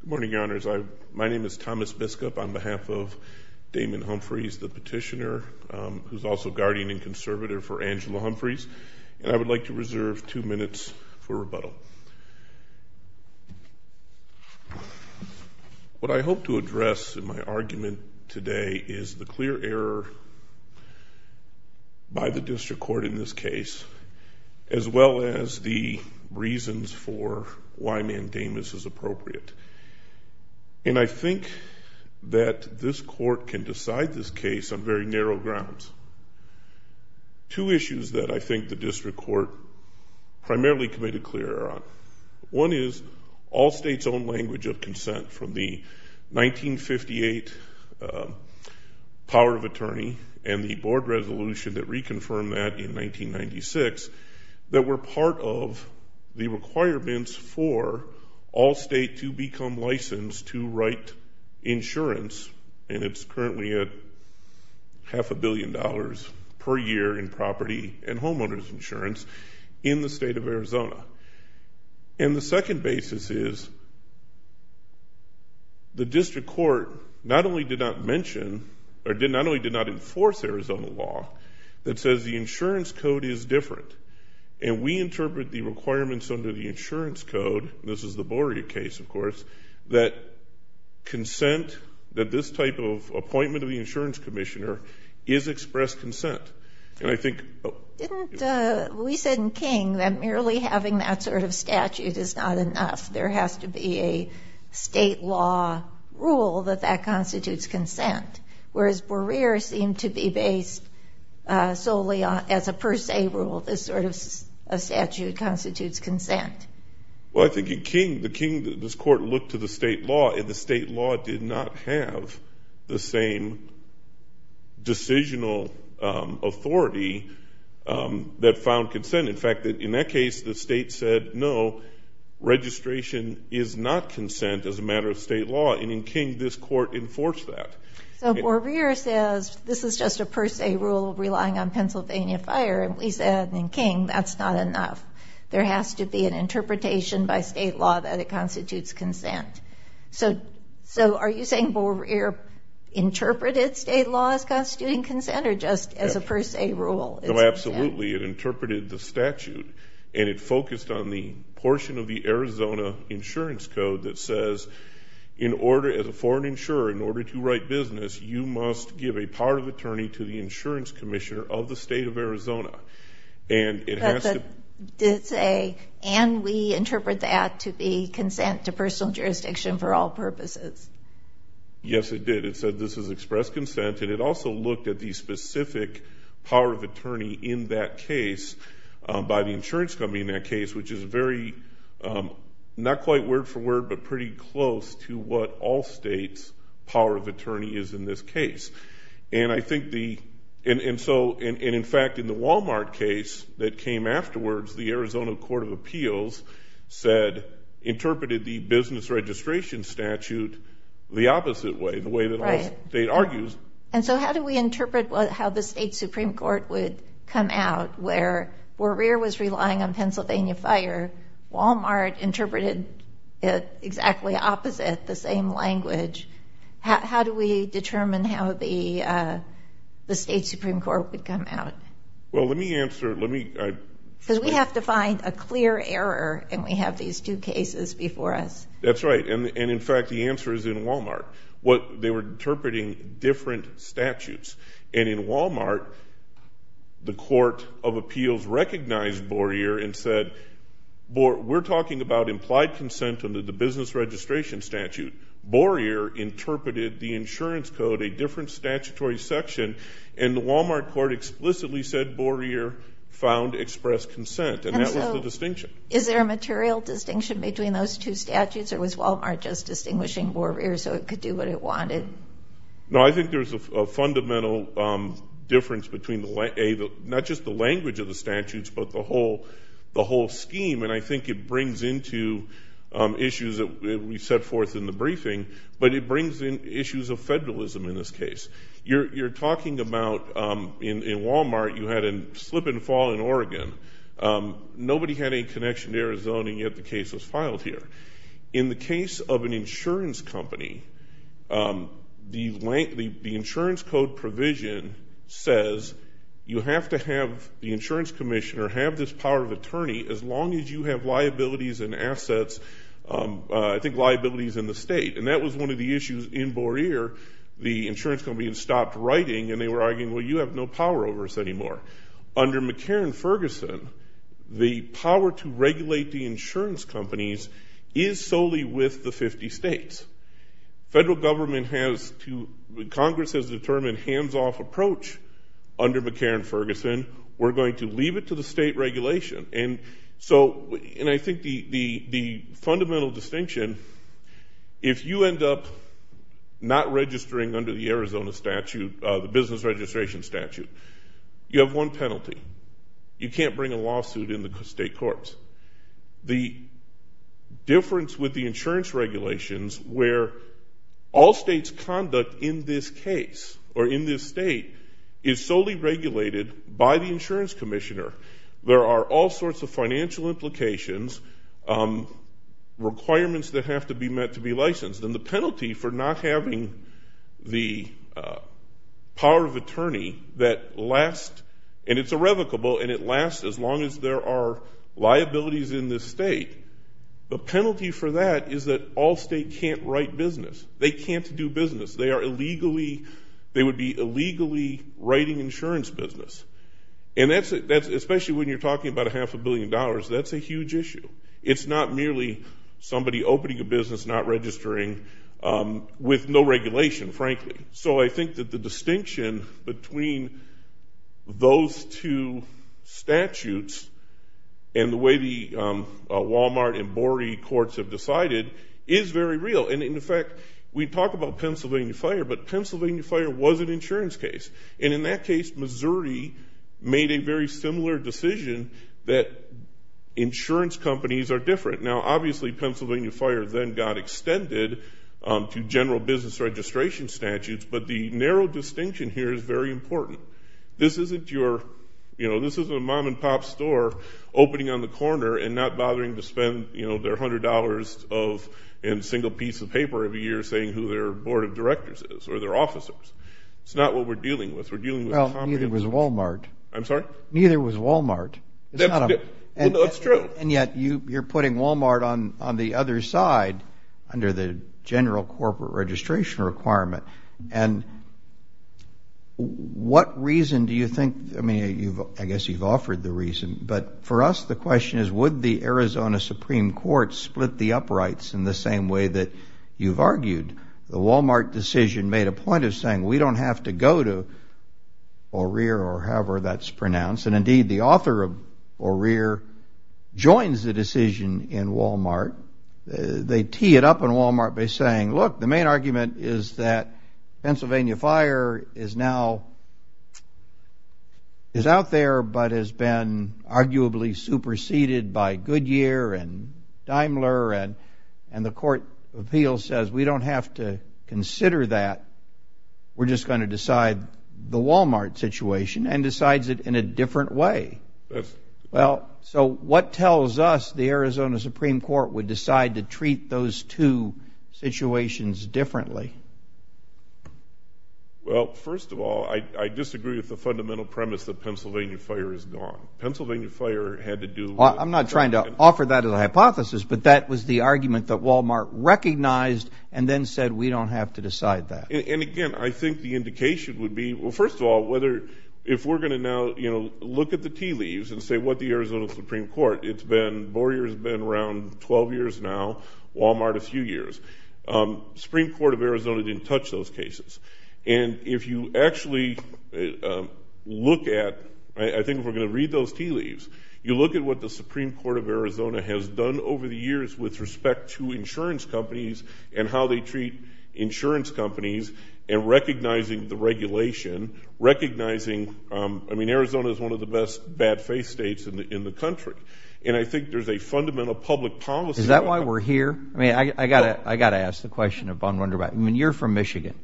Good morning, Your Honors. My name is Thomas Biskup on behalf of Damon Humphries, the petitioner, who is also guardian and conservator for Angela Humphries, and I would like to reserve two minutes for rebuttal. What I hope to address in my argument today is the clear error by the district court in this case, as well as the reasons for why mandamus is appropriate. And I think that this court can decide this case on very narrow grounds. Two issues that I think the district court primarily committed clear error on. One is all states' own language of consent from the 1958 power of attorney and the board resolution that reconfirmed that in 1996 that were part of the requirements for all states to become licensed to write insurance, and it's currently at half a billion dollars per year in property and homeowner's insurance in the state of Arizona. And the second basis is the district court not only did not mention, or not only did not enforce Arizona law, that says the insurance code is different, and we interpret the requirements under the insurance code, and this is the Borea case, of course, that consent, that this type of appointment of the insurance commissioner is expressed consent. And I think ‑‑ Didn't ‑‑ we said in King that merely having that sort of statute is not enough. There has to be a state law rule that that constitutes consent, whereas Borea seemed to be based solely as a per se rule, this sort of statute constitutes consent. Well, I think in King this court looked to the state law, and the state law did not have the same decisional authority that found consent. In fact, in that case the state said no, registration is not consent as a matter of state law, and in King this court enforced that. So Borea says this is just a per se rule relying on Pennsylvania fire, and we said in King that's not enough. There has to be an interpretation by state law that it constitutes consent. So are you saying Borea interpreted state law as constituting consent or just as a per se rule? No, absolutely. It interpreted the statute, and it focused on the portion of the Arizona insurance code that says in order, as a foreign insurer, in order to write business, you must give a part of attorney to the insurance commissioner of the state of Arizona. But it did say, and we interpret that to be consent to personal jurisdiction for all purposes. Yes, it did. It said this is express consent, and it also looked at the specific power of attorney in that case by the insurance company in that case, which is very not quite word for word but pretty close to what all states' power of attorney is in this case. And I think the, and so in fact in the Walmart case that came afterwards, the Arizona Court of Appeals said, interpreted the business registration statute the opposite way, the way that all states argues. And so how do we interpret how the state Supreme Court would come out where Borea was relying on Pennsylvania fire. Walmart interpreted it exactly opposite, the same language. How do we determine how the state Supreme Court would come out? Well, let me answer. Because we have to find a clear error, and we have these two cases before us. That's right, and in fact the answer is in Walmart. What they were interpreting different statutes. And in Walmart, the Court of Appeals recognized Borea and said, we're talking about implied consent under the business registration statute. Borea interpreted the insurance code, a different statutory section, and the Walmart court explicitly said Borea found expressed consent, and that was the distinction. And so is there a material distinction between those two statutes, or was Walmart just distinguishing Borea so it could do what it wanted? No, I think there's a fundamental difference between not just the language of the statutes but the whole scheme, and I think it brings into issues that we set forth in the briefing, but it brings in issues of federalism in this case. You're talking about in Walmart you had a slip and fall in Oregon. Nobody had any connection to Arizona, and yet the case was filed here. In the case of an insurance company, the insurance code provision says you have to have the insurance commissioner have this power of attorney as long as you have liabilities and assets, I think liabilities in the state. And that was one of the issues in Borea. The insurance company had stopped writing, and they were arguing, well, you have no power over us anymore. Under McCarran-Ferguson, the power to regulate the insurance companies is solely with the 50 states. Federal government has to, Congress has determined hands-off approach under McCarran-Ferguson. We're going to leave it to the state regulation. And so I think the fundamental distinction, if you end up not registering under the Arizona statute, the business registration statute, you have one penalty. You can't bring a lawsuit in the state courts. The difference with the insurance regulations where all states conduct in this case or in this state is solely regulated by the insurance commissioner. There are all sorts of financial implications, requirements that have to be met to be licensed, and the penalty for not having the power of attorney that lasts, and it's irrevocable, and it lasts as long as there are liabilities in this state. The penalty for that is that all states can't write business. They can't do business. They are illegally, they would be illegally writing insurance business. And that's, especially when you're talking about a half a billion dollars, that's a huge issue. It's not merely somebody opening a business, not registering, with no regulation, frankly. So I think that the distinction between those two statutes and the way the Walmart and Borey courts have decided is very real. And, in fact, we talk about Pennsylvania Fire, but Pennsylvania Fire was an insurance case. And in that case, Missouri made a very similar decision that insurance companies are different. Now, obviously, Pennsylvania Fire then got extended to general business registration statutes, but the narrow distinction here is very important. This isn't your, you know, this isn't a mom-and-pop store opening on the corner and not bothering to spend, you know, their $100 of a single piece of paper every year saying who their board of directors is or their officers. It's not what we're dealing with. We're dealing with a community. Well, neither was Walmart. I'm sorry? Neither was Walmart. That's true. And yet you're putting Walmart on the other side under the general corporate registration requirement. And what reason do you think, I mean, I guess you've offered the reason, but for us the question is would the Arizona Supreme Court split the uprights in the same way that you've argued? The Walmart decision made a point of saying we don't have to go to O'Rear or however that's pronounced. And, indeed, the author of O'Rear joins the decision in Walmart. They tee it up in Walmart by saying, look, the main argument is that Pennsylvania Fire is now, is out there but has been arguably superseded by Goodyear and Daimler and the court of appeals says we don't have to consider that. We're just going to decide the Walmart situation and decides it in a different way. Well, so what tells us the Arizona Supreme Court would decide to treat those two situations differently? Well, first of all, I disagree with the fundamental premise that Pennsylvania Fire is gone. Pennsylvania Fire had to do with. I'm not trying to offer that as a hypothesis, but that was the argument that Walmart recognized and then said we don't have to decide that. And, again, I think the indication would be, well, first of all, whether if we're going to now look at the tea leaves and say what the Arizona Supreme Court, it's been four years, been around 12 years now, Walmart a few years. Supreme Court of Arizona didn't touch those cases. And if you actually look at, I think if we're going to read those tea leaves, you look at what the Supreme Court of Arizona has done over the years with respect to insurance companies and how they treat insurance companies and recognizing the regulation, recognizing, I mean, Arizona is one of the best bad faith states in the country. And I think there's a fundamental public policy. Is that why we're here? I mean, I've got to ask the question of Von Runderbach. I mean, you're from Michigan,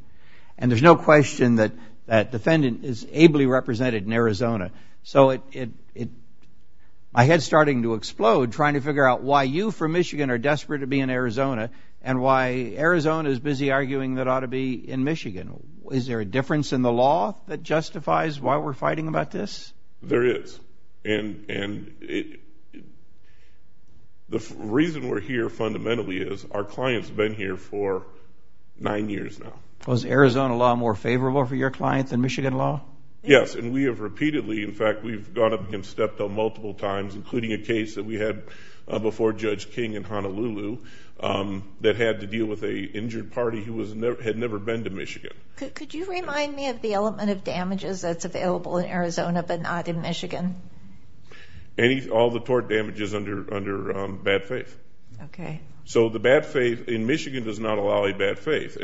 and there's no question that that defendant is ably represented in Arizona. So my head's starting to explode trying to figure out why you from Michigan are desperate to be in Arizona and why Arizona is busy arguing that ought to be in Michigan. Is there a difference in the law that justifies why we're fighting about this? There is. And the reason we're here fundamentally is our client's been here for nine years now. Was Arizona law more favorable for your client than Michigan law? Yes, and we have repeatedly, in fact, we've gone up against Steptoe multiple times, including a case that we had before Judge King in Honolulu that had to deal with an injured party who had never been to Michigan. Could you remind me of the element of damages that's available in Arizona but not in Michigan? All the tort damages under bad faith. Okay. So the bad faith in Michigan does not allow a bad faith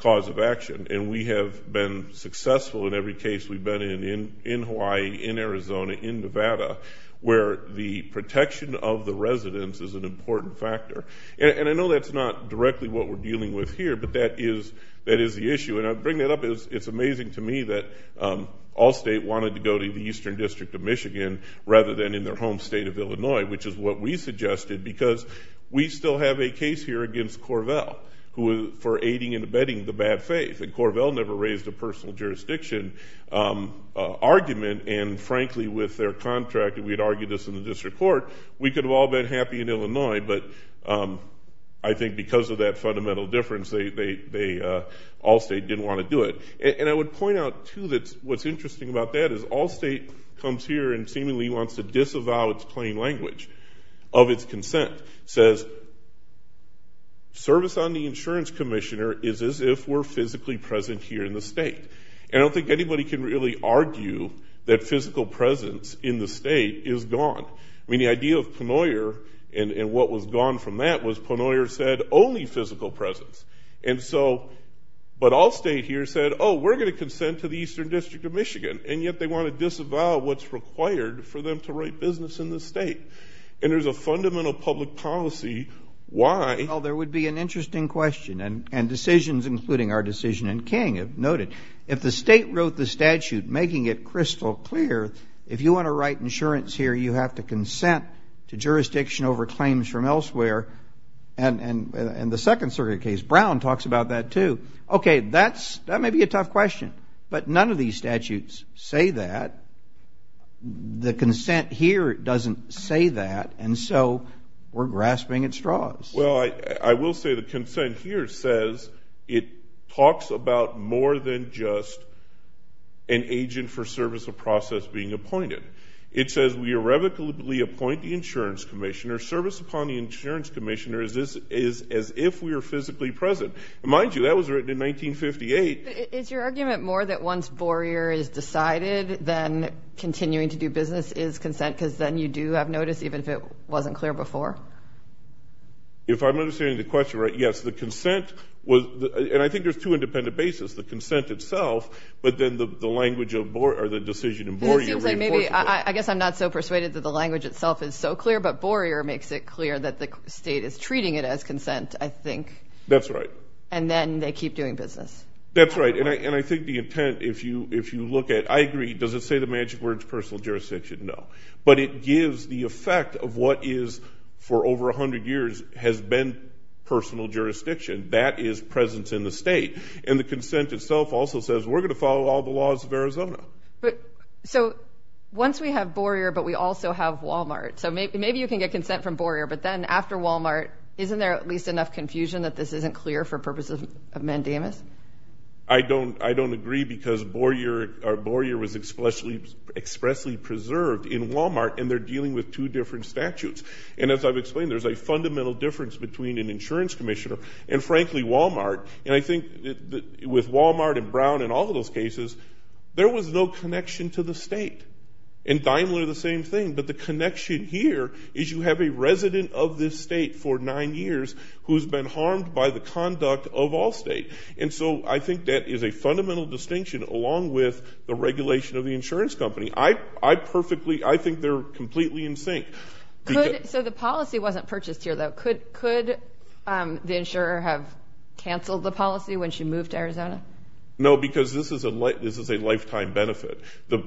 cause of action. And we have been successful in every case we've been in, in Hawaii, in Arizona, in Nevada, where the protection of the residents is an important factor. And I know that's not directly what we're dealing with here, but that is the issue. And I bring that up because it's amazing to me that Allstate wanted to go to the Eastern District of Michigan rather than in their home state of Illinois, which is what we suggested, because we still have a case here against Corvell for aiding and abetting the bad faith. And Corvell never raised a personal jurisdiction argument. And, frankly, with their contract, if we had argued this in the district court, we could have all been happy in Illinois. But I think because of that fundamental difference, Allstate didn't want to do it. And I would point out, too, that what's interesting about that is Allstate comes here and seemingly wants to disavow its plain language of its consent. It says, service on the insurance commissioner is as if we're physically present here in the state. And I don't think anybody can really argue that physical presence in the state is gone. I mean, the idea of Pennoyer and what was gone from that was Pennoyer said only physical presence. And so, but Allstate here said, oh, we're going to consent to the Eastern District of Michigan. And yet they want to disavow what's required for them to write business in the state. And there's a fundamental public policy why. Well, there would be an interesting question, and decisions, including our decision in King, have noted. If the state wrote the statute making it crystal clear, if you want to write insurance here, you have to consent to jurisdiction over claims from elsewhere, and the Second Circuit case, Brown, talks about that, too. Okay, that may be a tough question, but none of these statutes say that. The consent here doesn't say that, and so we're grasping at straws. Well, I will say the consent here says it talks about more than just an agent for service of process being appointed. It says we irrevocably appoint the insurance commissioner. Service upon the insurance commissioner is as if we are physically present. Mind you, that was written in 1958. Is your argument more that once Boerier is decided, then continuing to do business is consent, because then you do have notice, even if it wasn't clear before? If I'm understanding the question right, yes. The consent was, and I think there's two independent bases, the consent itself, but then the language of Boerier, or the decision in Boerier reinforces that. Because it seems like maybe, I guess I'm not so persuaded that the language itself is so clear, but Boerier makes it clear that the state is treating it as consent, I think. That's right. And then they keep doing business. That's right. And I think the intent, if you look at, I agree, does it say the magic words personal jurisdiction? No. But it gives the effect of what is, for over 100 years, has been personal jurisdiction. That is presence in the state. And the consent itself also says we're going to follow all the laws of Arizona. So once we have Boerier, but we also have Walmart, so maybe you can get consent from Boerier, but then after Walmart, isn't there at least enough confusion that this isn't clear for purposes of mandamus? I don't agree because Boerier was expressly preserved in Walmart, and they're dealing with two different statutes. And as I've explained, there's a fundamental difference between an insurance commissioner and, frankly, Walmart. And I think with Walmart and Brown and all of those cases, there was no connection to the state. And Daimler, the same thing. But the connection here is you have a resident of this state for nine years who has been harmed by the conduct of Allstate. And so I think that is a fundamental distinction, along with the regulation of the insurance company. I think they're completely in sync. So the policy wasn't purchased here, though. Could the insurer have canceled the policy when she moved to Arizona? No, because this is a lifetime benefit. So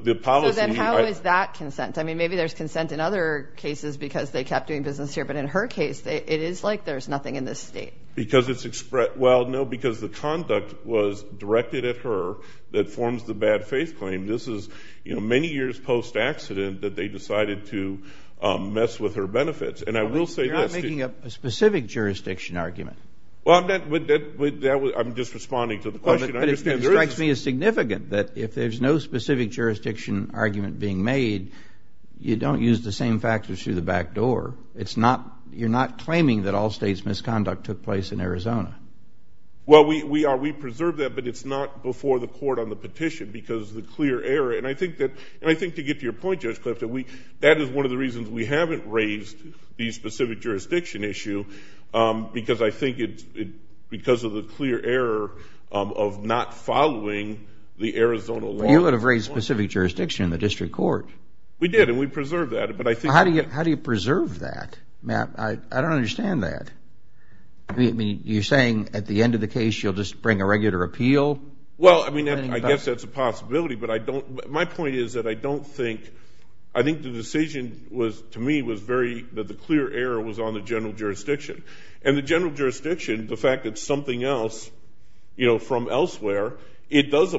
then how is that consent? I mean, maybe there's consent in other cases because they kept doing business here. But in her case, it is like there's nothing in this state. Because it's expressed. Well, no, because the conduct was directed at her that forms the bad faith claim. This is, you know, many years post-accident that they decided to mess with her benefits. And I will say this. You're not making up a specific jurisdiction argument. Well, I'm just responding to the question. But it strikes me as significant that if there's no specific jurisdiction argument being made, you don't use the same factors through the back door. You're not claiming that Allstate's misconduct took place in Arizona. Well, we preserve that, but it's not before the court on the petition because of the clear error. And I think to get to your point, Judge Clifton, that is one of the reasons we haven't raised the specific jurisdiction issue because I think it's because of the clear error of not following the Arizona law. But you would have raised specific jurisdiction in the district court. We did, and we preserved that. How do you preserve that? Matt, I don't understand that. I mean, you're saying at the end of the case you'll just bring a regular appeal? Well, I mean, I guess that's a possibility. But my point is that I don't think, I think the decision to me was very, that the clear error was on the general jurisdiction. And the general jurisdiction, the fact that something else, you know, from elsewhere, that's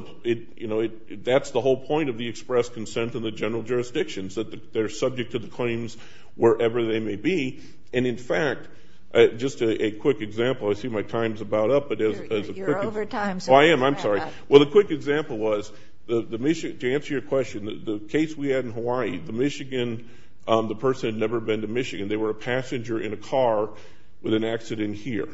the whole point of the express consent of the general jurisdictions, that they're subject to the claims wherever they may be. And, in fact, just a quick example. I see my time's about up. You're over time. Oh, I am. I'm sorry. Well, the quick example was, to answer your question, the case we had in Hawaii, the Michigan, the person had never been to Michigan. They were a passenger in a car with an accident here.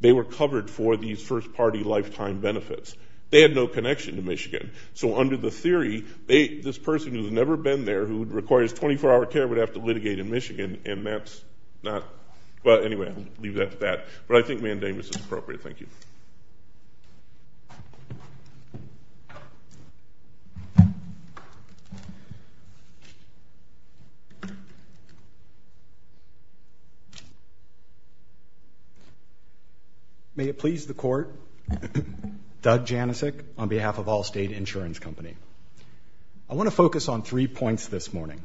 They were covered for these first-party lifetime benefits. They had no connection to Michigan. So under the theory, this person who's never been there, who requires 24-hour care, would have to litigate in Michigan, and that's not, well, anyway, I'll leave that at that. But I think mandamus is appropriate. Thank you. May it please the Court, Doug Janicek on behalf of Allstate Insurance Company. I want to focus on three points this morning.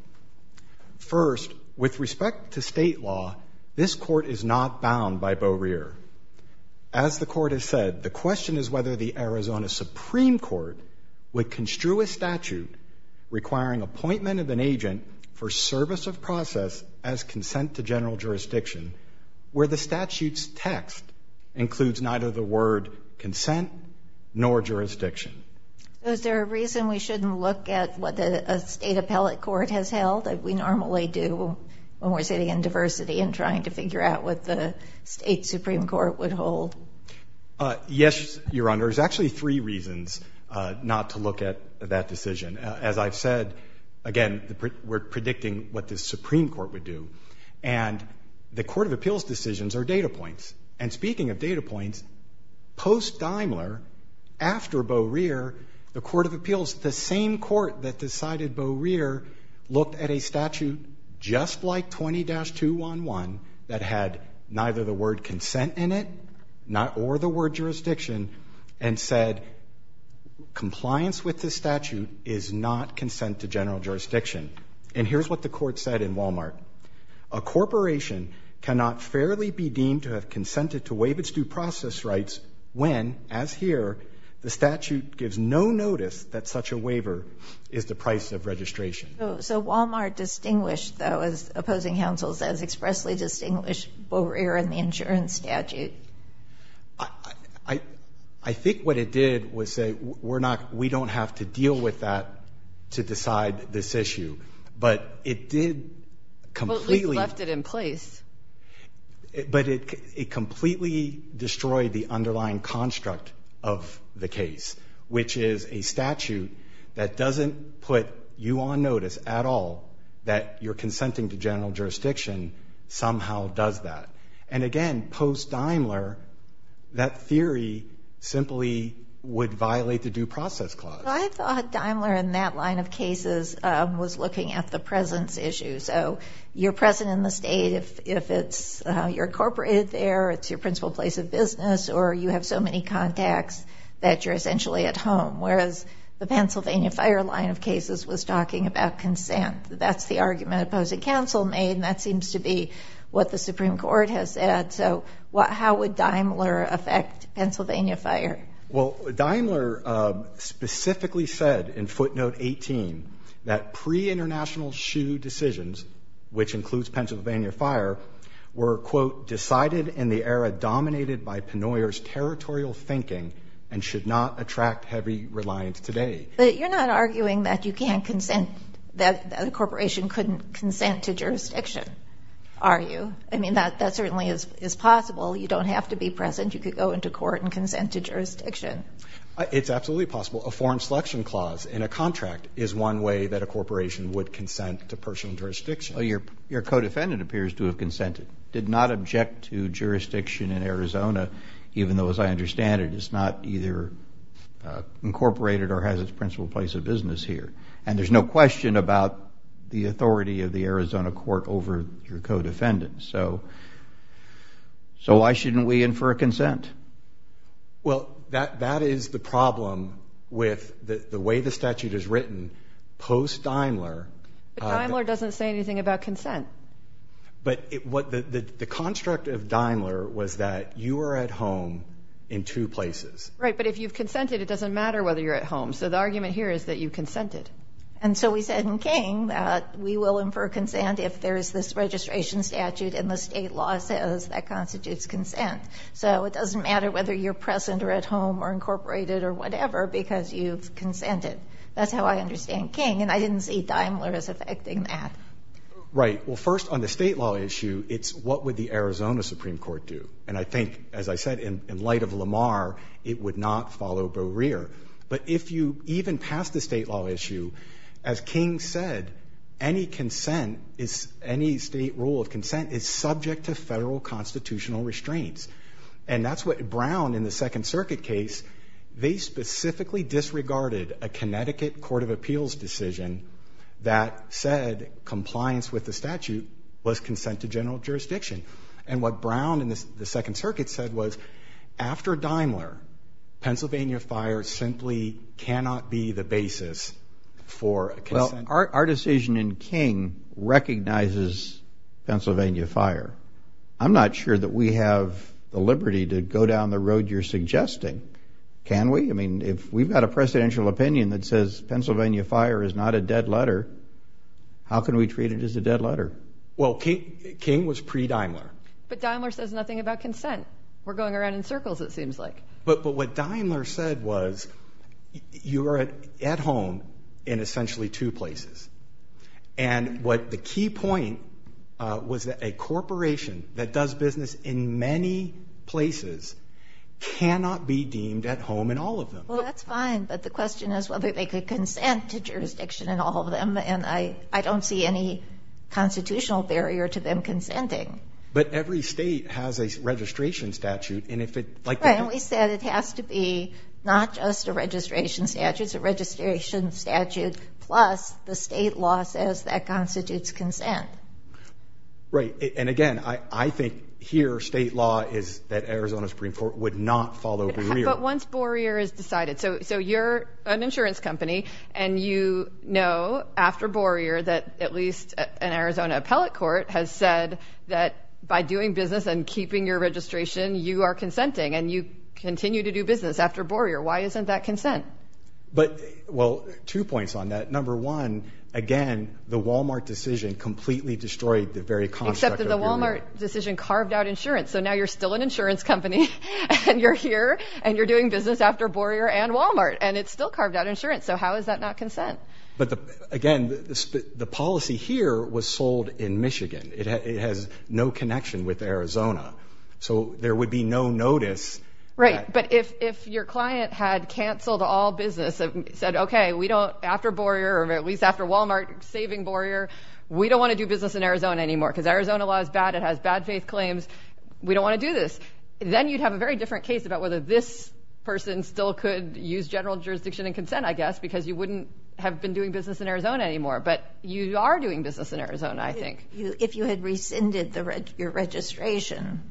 First, with respect to state law, this Court is not bound by Beau Rear. As the Court has said, the question is whether the Arizona Supreme Court would construe a statute requiring appointment of an agent for service of process as consent to general jurisdiction where the statute's text includes neither the word consent nor jurisdiction. Is there a reason we shouldn't look at what a state appellate court has held, as we normally do when we're sitting in diversity and trying to figure out what the state Supreme Court would hold? Yes, Your Honor. There's actually three reasons not to look at that decision. As I've said, again, we're predicting what the Supreme Court would do. And the court of appeals decisions are data points. And speaking of data points, post-Daimler, after Beau Rear, the court of appeals, the same court that decided Beau Rear looked at a statute just like 20-211 that had neither the word consent in it or the word jurisdiction and said compliance with this statute is not consent to general jurisdiction. And here's what the court said in Walmart. A corporation cannot fairly be deemed to have consented to waive its due process rights when, as here, the statute gives no notice that such a waiver is the price of registration. So Walmart distinguished, though, as opposing counsels, as expressly distinguished Beau Rear and the insurance statute. I think what it did was say we don't have to deal with that to decide this issue. But it did completely. Well, at least left it in place. But it completely destroyed the underlying construct of the case, which is a statute that doesn't put you on notice at all that your consenting to general jurisdiction somehow does that. And, again, post-Daimler, that theory simply would violate the due process clause. Well, I thought Daimler in that line of cases was looking at the presence issue. So you're present in the state if you're incorporated there, it's your principal place of business, or you have so many contacts that you're essentially at home, whereas the Pennsylvania Fire line of cases was talking about consent. That's the argument opposing counsel made, and that seems to be what the Supreme Court has said. So how would Daimler affect Pennsylvania Fire? Well, Daimler specifically said in footnote 18 that pre-international SHU decisions, which includes Pennsylvania Fire, were, quote, decided in the era dominated by Penoyer's territorial thinking and should not attract heavy reliance today. But you're not arguing that you can't consent, that a corporation couldn't consent to jurisdiction, are you? I mean, that certainly is possible. You don't have to be present. You could go into court and consent to jurisdiction. It's absolutely possible. A foreign selection clause in a contract is one way that a corporation would consent to personal jurisdiction. Your co-defendant appears to have consented, did not object to jurisdiction in Arizona, even though, as I understand it, it's not either incorporated or has its principal place of business here. And there's no question about the authority of the Arizona court over your co-defendant. So why shouldn't we infer consent? Well, that is the problem with the way the statute is written post-Daimler. But Daimler doesn't say anything about consent. But the construct of Daimler was that you are at home in two places. Right, but if you've consented, it doesn't matter whether you're at home. So the argument here is that you consented. And so we said in King that we will infer consent if there is this registration statute and the state law says that constitutes consent. So it doesn't matter whether you're present or at home or incorporated or whatever because you've consented. That's how I understand King. And I didn't see Daimler as affecting that. Right. Well, first, on the state law issue, it's what would the Arizona Supreme Court do. And I think, as I said, in light of Lamar, it would not follow Brewer. But if you even pass the state law issue, as King said, any state rule of consent is subject to federal constitutional restraints. And that's what Brown in the Second Circuit case, they specifically disregarded a Connecticut Court of Appeals decision that said compliance with the statute was consent to general jurisdiction. And what Brown in the Second Circuit said was after Daimler, Pennsylvania Fire simply cannot be the basis for consent. Well, our decision in King recognizes Pennsylvania Fire. I'm not sure that we have the liberty to go down the road you're suggesting. Can we? I mean, if we've got a presidential opinion that says Pennsylvania Fire is not a dead letter, how can we treat it as a dead letter? Well, King was pre-Daimler. But Daimler says nothing about consent. We're going around in circles, it seems like. But what Daimler said was you are at home in essentially two places. And what the key point was that a corporation that does business in many places cannot be deemed at home in all of them. Well, that's fine. But the question is whether they could consent to jurisdiction in all of them. And I don't see any constitutional barrier to them consenting. But every state has a registration statute. And if it's like they do. Right. And we said it has to be not just a registration statute. It's a registration statute plus the state law says that constitutes consent. Right. And, again, I think here state law is that Arizona Supreme Court would not fall over the rear. But once Boerier is decided. So you're an insurance company and you know after Boerier that at least an Arizona appellate court has said that by doing business and keeping your registration you are consenting and you continue to do business after Boerier. Why isn't that consent? Well, two points on that. Number one, again, the Walmart decision completely destroyed the very construct of Boerier. Except that the Walmart decision carved out insurance. So now you're still an insurance company and you're here and you're doing business after Boerier and Walmart. And it still carved out insurance. So how is that not consent? But, again, the policy here was sold in Michigan. It has no connection with Arizona. So there would be no notice. Right. But if your client had canceled all business and said, okay, we don't after Boerier or at least after Walmart saving Boerier, we don't want to do business in Arizona anymore because Arizona law is bad. It has bad faith claims. We don't want to do this. Then you'd have a very different case about whether this person still could use general jurisdiction and consent, I guess, because you wouldn't have been doing business in Arizona anymore. But you are doing business in Arizona, I think. If you had rescinded your registration,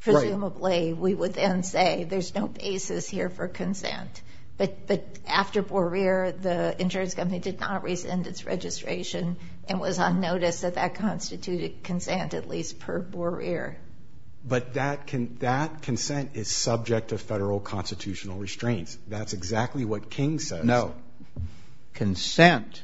presumably we would then say there's no basis here for consent. But after Boerier, the insurance company did not rescind its registration and was on notice that that constituted consent at least per Boerier. But that consent is subject to federal constitutional restraints. That's exactly what King says. No. Consent.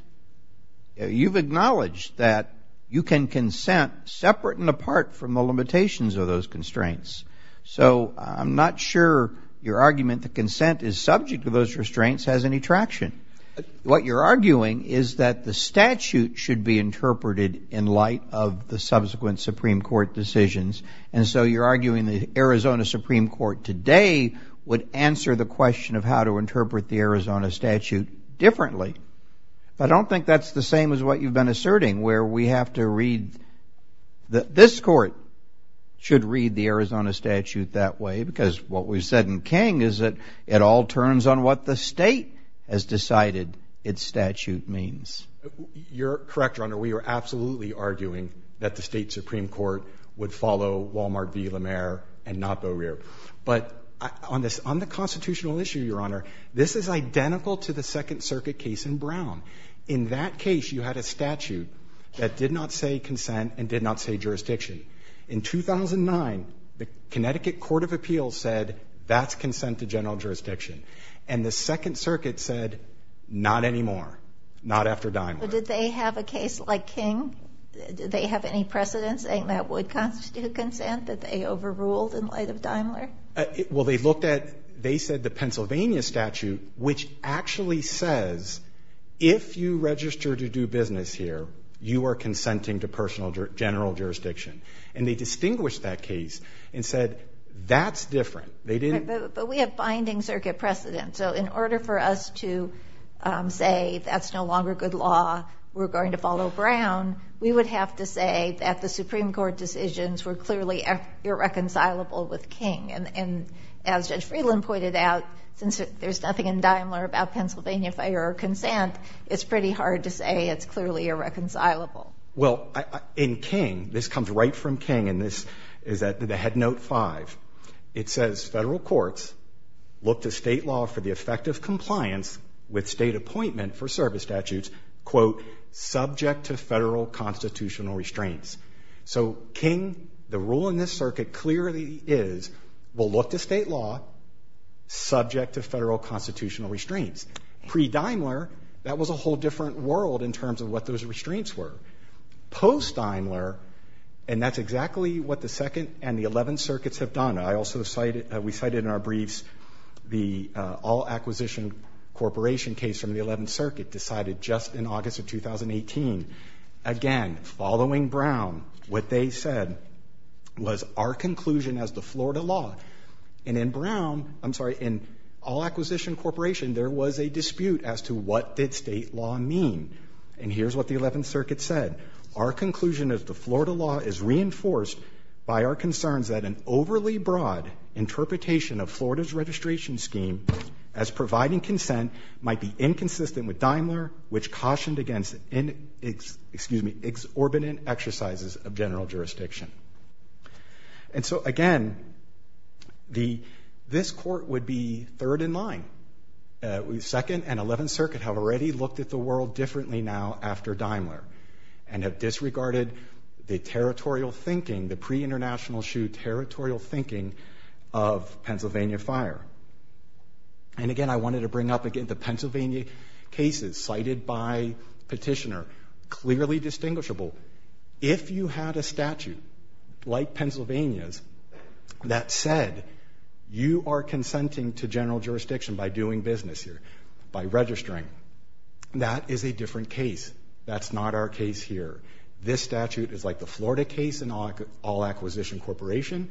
You've acknowledged that you can consent separate and apart from the limitations of those constraints. So I'm not sure your argument that consent is subject to those restraints has any traction. What you're arguing is that the statute should be interpreted in light of the subsequent Supreme Court decisions. And so you're arguing the Arizona Supreme Court today would answer the question of how to interpret the Arizona statute differently. I don't think that's the same as what you've been asserting, where we have to read that this court should read the Arizona statute that way because what we've said in King is that it all turns on what the state has decided its statute means. You're correct, Your Honor. We are absolutely arguing that the state Supreme Court would follow Wal-Mart v. La Mer and not Boerier. But on the constitutional issue, Your Honor, this is identical to the Second Circuit case in Brown. In that case, you had a statute that did not say consent and did not say jurisdiction. In 2009, the Connecticut Court of Appeals said that's consent to general jurisdiction. And the Second Circuit said not anymore, not after Daimler. But did they have a case like King? Did they have any precedents saying that would constitute consent that they overruled in light of Daimler? Well, they looked at they said the Pennsylvania statute, which actually says if you register to do business here, you are consenting to personal general jurisdiction. And they distinguished that case and said that's different. But we have binding circuit precedents. So in order for us to say that's no longer good law, we're going to follow Brown, we would have to say that the Supreme Court decisions were clearly irreconcilable with King. And as Judge Friedland pointed out, since there's nothing in Daimler about Pennsylvania fire or consent, it's pretty hard to say it's clearly irreconcilable. Well, in King, this comes right from King, and this is at the head note 5. It says Federal courts look to State law for the effect of compliance with State appointment for service statutes, quote, subject to Federal constitutional restraints. So King, the rule in this circuit clearly is we'll look to State law subject to Federal constitutional restraints. Pre-Daimler, that was a whole different world in terms of what those restraints were. Post-Daimler, and that's exactly what the Second and the Eleventh Circuits have done. I also cited we cited in our briefs the All Acquisition Corporation case from the Eleventh Circuit, decided just in August of 2018. Again, following Brown, what they said was our conclusion as the Florida law. And in Brown, I'm sorry, in All Acquisition Corporation, there was a dispute as to what did State law mean. And here's what the Eleventh Circuit said. Our conclusion is the Florida law is reinforced by our concerns that an overly broad interpretation of Florida's registration scheme as providing consent might be inconsistent with Daimler, which cautioned against, excuse me, exorbitant exercises of general jurisdiction. And so again, this court would be third in line. Second and Eleventh Circuit have already looked at the world differently now after Daimler and have disregarded the territorial thinking, the pre-International Shoe territorial thinking of Pennsylvania Fire. And again, I wanted to bring up again the Pennsylvania cases cited by Petitioner, clearly distinguishable. If you had a statute like Pennsylvania's that said you are consenting to general jurisdiction by doing business here, by registering, that is a different case. That's not our case here. This statute is like the Florida case in All Acquisition Corporation,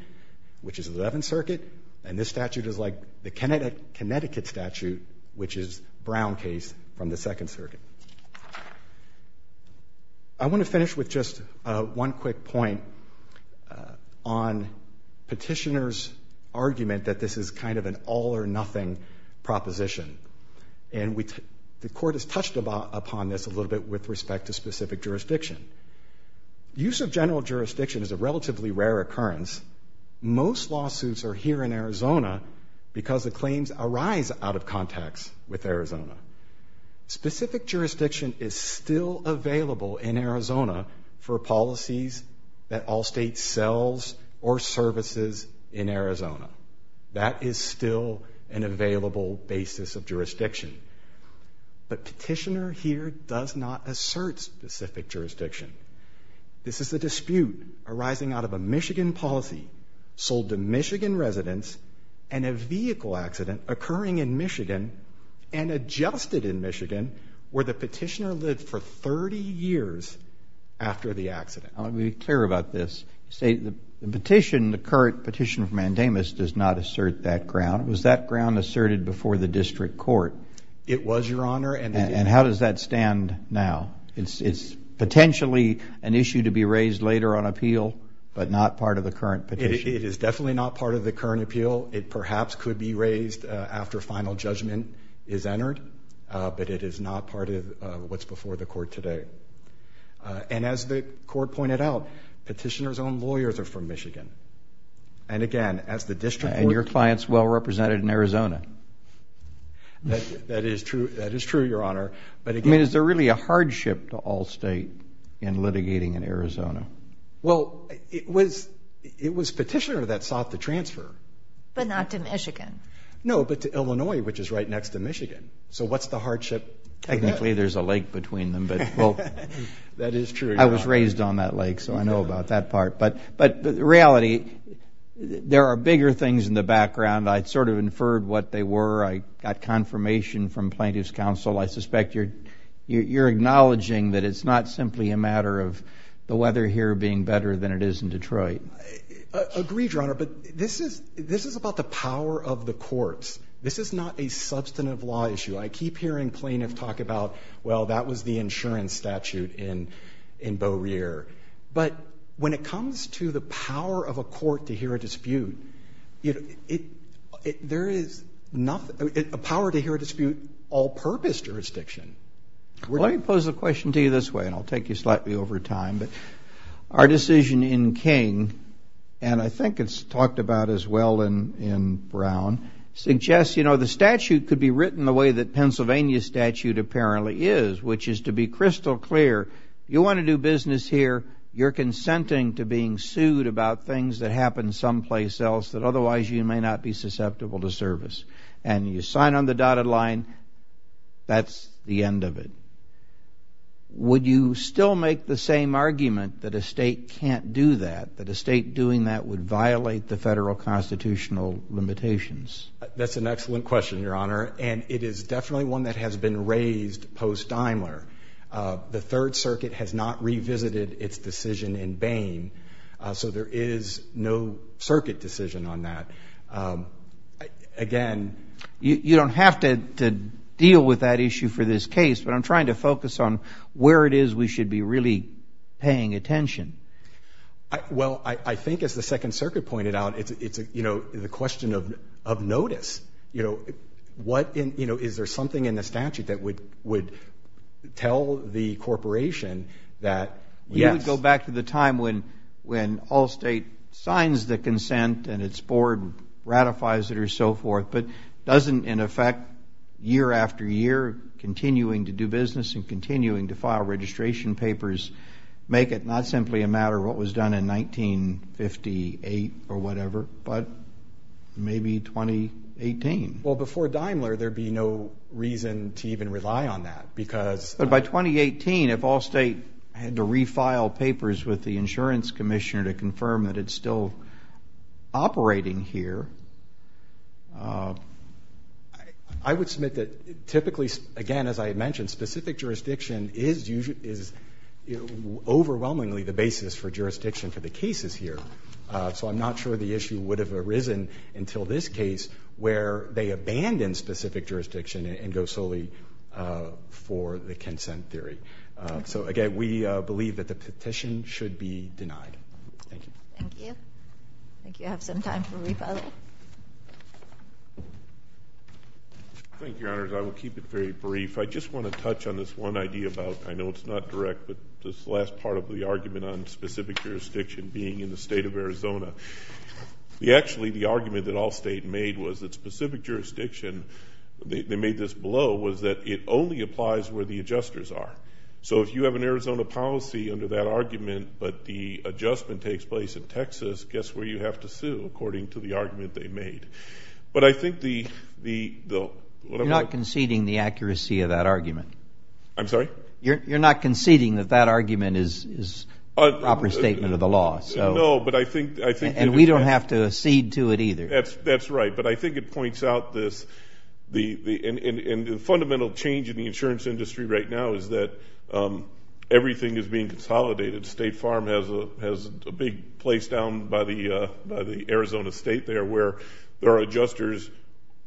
which is Eleventh Circuit, and this statute is like the Connecticut statute, which is Brown case from the Second Circuit. I want to finish with just one quick point on Petitioner's argument that this is kind of an all or nothing proposition. And the court has touched upon this a little bit with respect to specific jurisdiction. Use of general jurisdiction is a relatively rare occurrence. Most lawsuits are here in Arizona because the claims arise out of contacts with Arizona. Specific jurisdiction is still available in Arizona for policies that Allstate sells or services in Arizona. That is still an available basis of jurisdiction. But Petitioner here does not assert specific jurisdiction. This is a dispute arising out of a Michigan policy sold to Michigan residents and a vehicle accident occurring in Michigan and adjusted in Michigan where the petitioner lived for 30 years after the accident. Let me be clear about this. You say the petition, the current petition from Mandamus does not assert that ground. Was that ground asserted before the district court? It was, Your Honor. And how does that stand now? It's potentially an issue to be raised later on appeal but not part of the current petition. It is definitely not part of the current appeal. It perhaps could be raised after final judgment is entered. But it is not part of what's before the court today. And as the court pointed out, Petitioner's own lawyers are from Michigan. And, again, as the district court. And your client's well represented in Arizona. That is true, Your Honor. But, again. Well, it was Petitioner that sought the transfer. But not to Michigan. No, but to Illinois, which is right next to Michigan. So what's the hardship? Technically, there's a lake between them. That is true, Your Honor. I was raised on that lake, so I know about that part. But, in reality, there are bigger things in the background. I sort of inferred what they were. I got confirmation from plaintiff's counsel. I suspect you're acknowledging that it's not simply a matter of the weather here being better than it is in Detroit. Agreed, Your Honor. But this is about the power of the courts. This is not a substantive law issue. I keep hearing plaintiffs talk about, well, that was the insurance statute in Beaureair. But when it comes to the power of a court to hear a dispute, there is nothing, a power to hear a dispute, all-purpose jurisdiction. Let me pose a question to you this way, and I'll take you slightly over time. Our decision in King, and I think it's talked about as well in Brown, suggests, you know, the statute could be written the way that Pennsylvania's statute apparently is, which is to be crystal clear. You want to do business here, you're consenting to being sued about things that happen someplace else that otherwise you may not be susceptible to service. And you sign on the dotted line, that's the end of it. Would you still make the same argument that a state can't do that, that a state doing that would violate the federal constitutional limitations? That's an excellent question, Your Honor. And it is definitely one that has been raised post-Daimler. The Third Circuit has not revisited its decision in Bain, so there is no circuit decision on that. Again, you don't have to deal with that issue for this case, but I'm trying to focus on where it is we should be really paying attention. Well, I think, as the Second Circuit pointed out, it's, you know, the question of notice. You know, is there something in the statute that would tell the corporation that yes? We would go back to the time when all state signs the consent and its board ratifies it or so forth, but doesn't, in effect, year after year, continuing to do business and continuing to file registration papers, make it not simply a matter of what was done in 1958 or whatever, but maybe 2018? Well, before Daimler, there would be no reason to even rely on that because – But by 2018, if all state had to refile papers with the insurance commissioner to confirm that it's still operating here, I would submit that typically, again, as I had mentioned, specific jurisdiction is overwhelmingly the basis for jurisdiction for the cases here. So I'm not sure the issue would have arisen until this case where they abandon specific jurisdiction and go solely for the consent theory. So, again, we believe that the petition should be denied. Thank you. Thank you. I think you have some time for rebuttal. Thank you, Your Honors. I will keep it very brief. I just want to touch on this one idea about, I know it's not direct, but this last part of the argument on specific jurisdiction being in the state of Arizona. Actually, the argument that all state made was that specific jurisdiction, they made this blow, was that it only applies where the adjusters are. So if you have an Arizona policy under that argument, but the adjustment takes place in Texas, guess where you have to sue according to the argument they made. But I think the – You're not conceding the accuracy of that argument. I'm sorry? You're not conceding that that argument is a proper statement of the law. No, but I think – And we don't have to accede to it either. That's right. But I think it points out this – And the fundamental change in the insurance industry right now is that everything is being consolidated. State Farm has a big place down by the Arizona state there where there are adjusters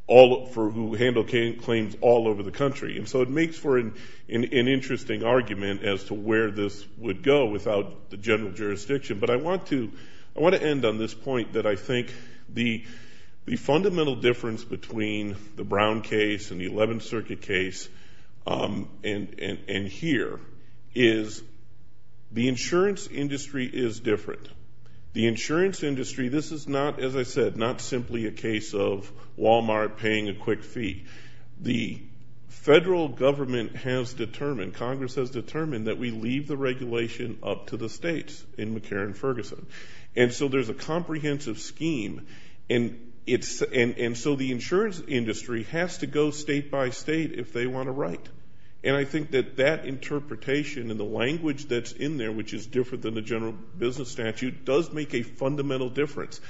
who handle claims all over the country. And so it makes for an interesting argument as to where this would go without the general jurisdiction. But I want to end on this point that I think the fundamental difference between the Brown case and the 11th Circuit case and here is the insurance industry is different. The insurance industry, this is not, as I said, not simply a case of Walmart paying a quick fee. The federal government has determined, Congress has determined, that we leave the regulation up to the states in McCarran-Ferguson. And so there's a comprehensive scheme. And so the insurance industry has to go state by state if they want to write. And I think that that interpretation and the language that's in there, which is different than the general business statute, does make a fundamental difference.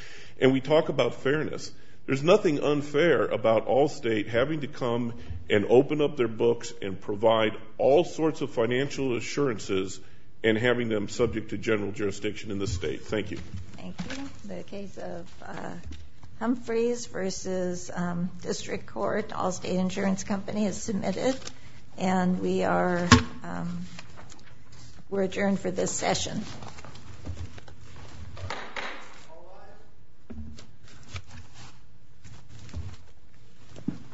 And we talk about fairness. There's nothing unfair about all states having to come and open up their books and provide all sorts of financial assurances and having them subject to general jurisdiction in the state. Thank you. Thank you. The case of Humphreys v. District Court, Allstate Insurance Company, is submitted. And we are adjourned for this session. Thank you.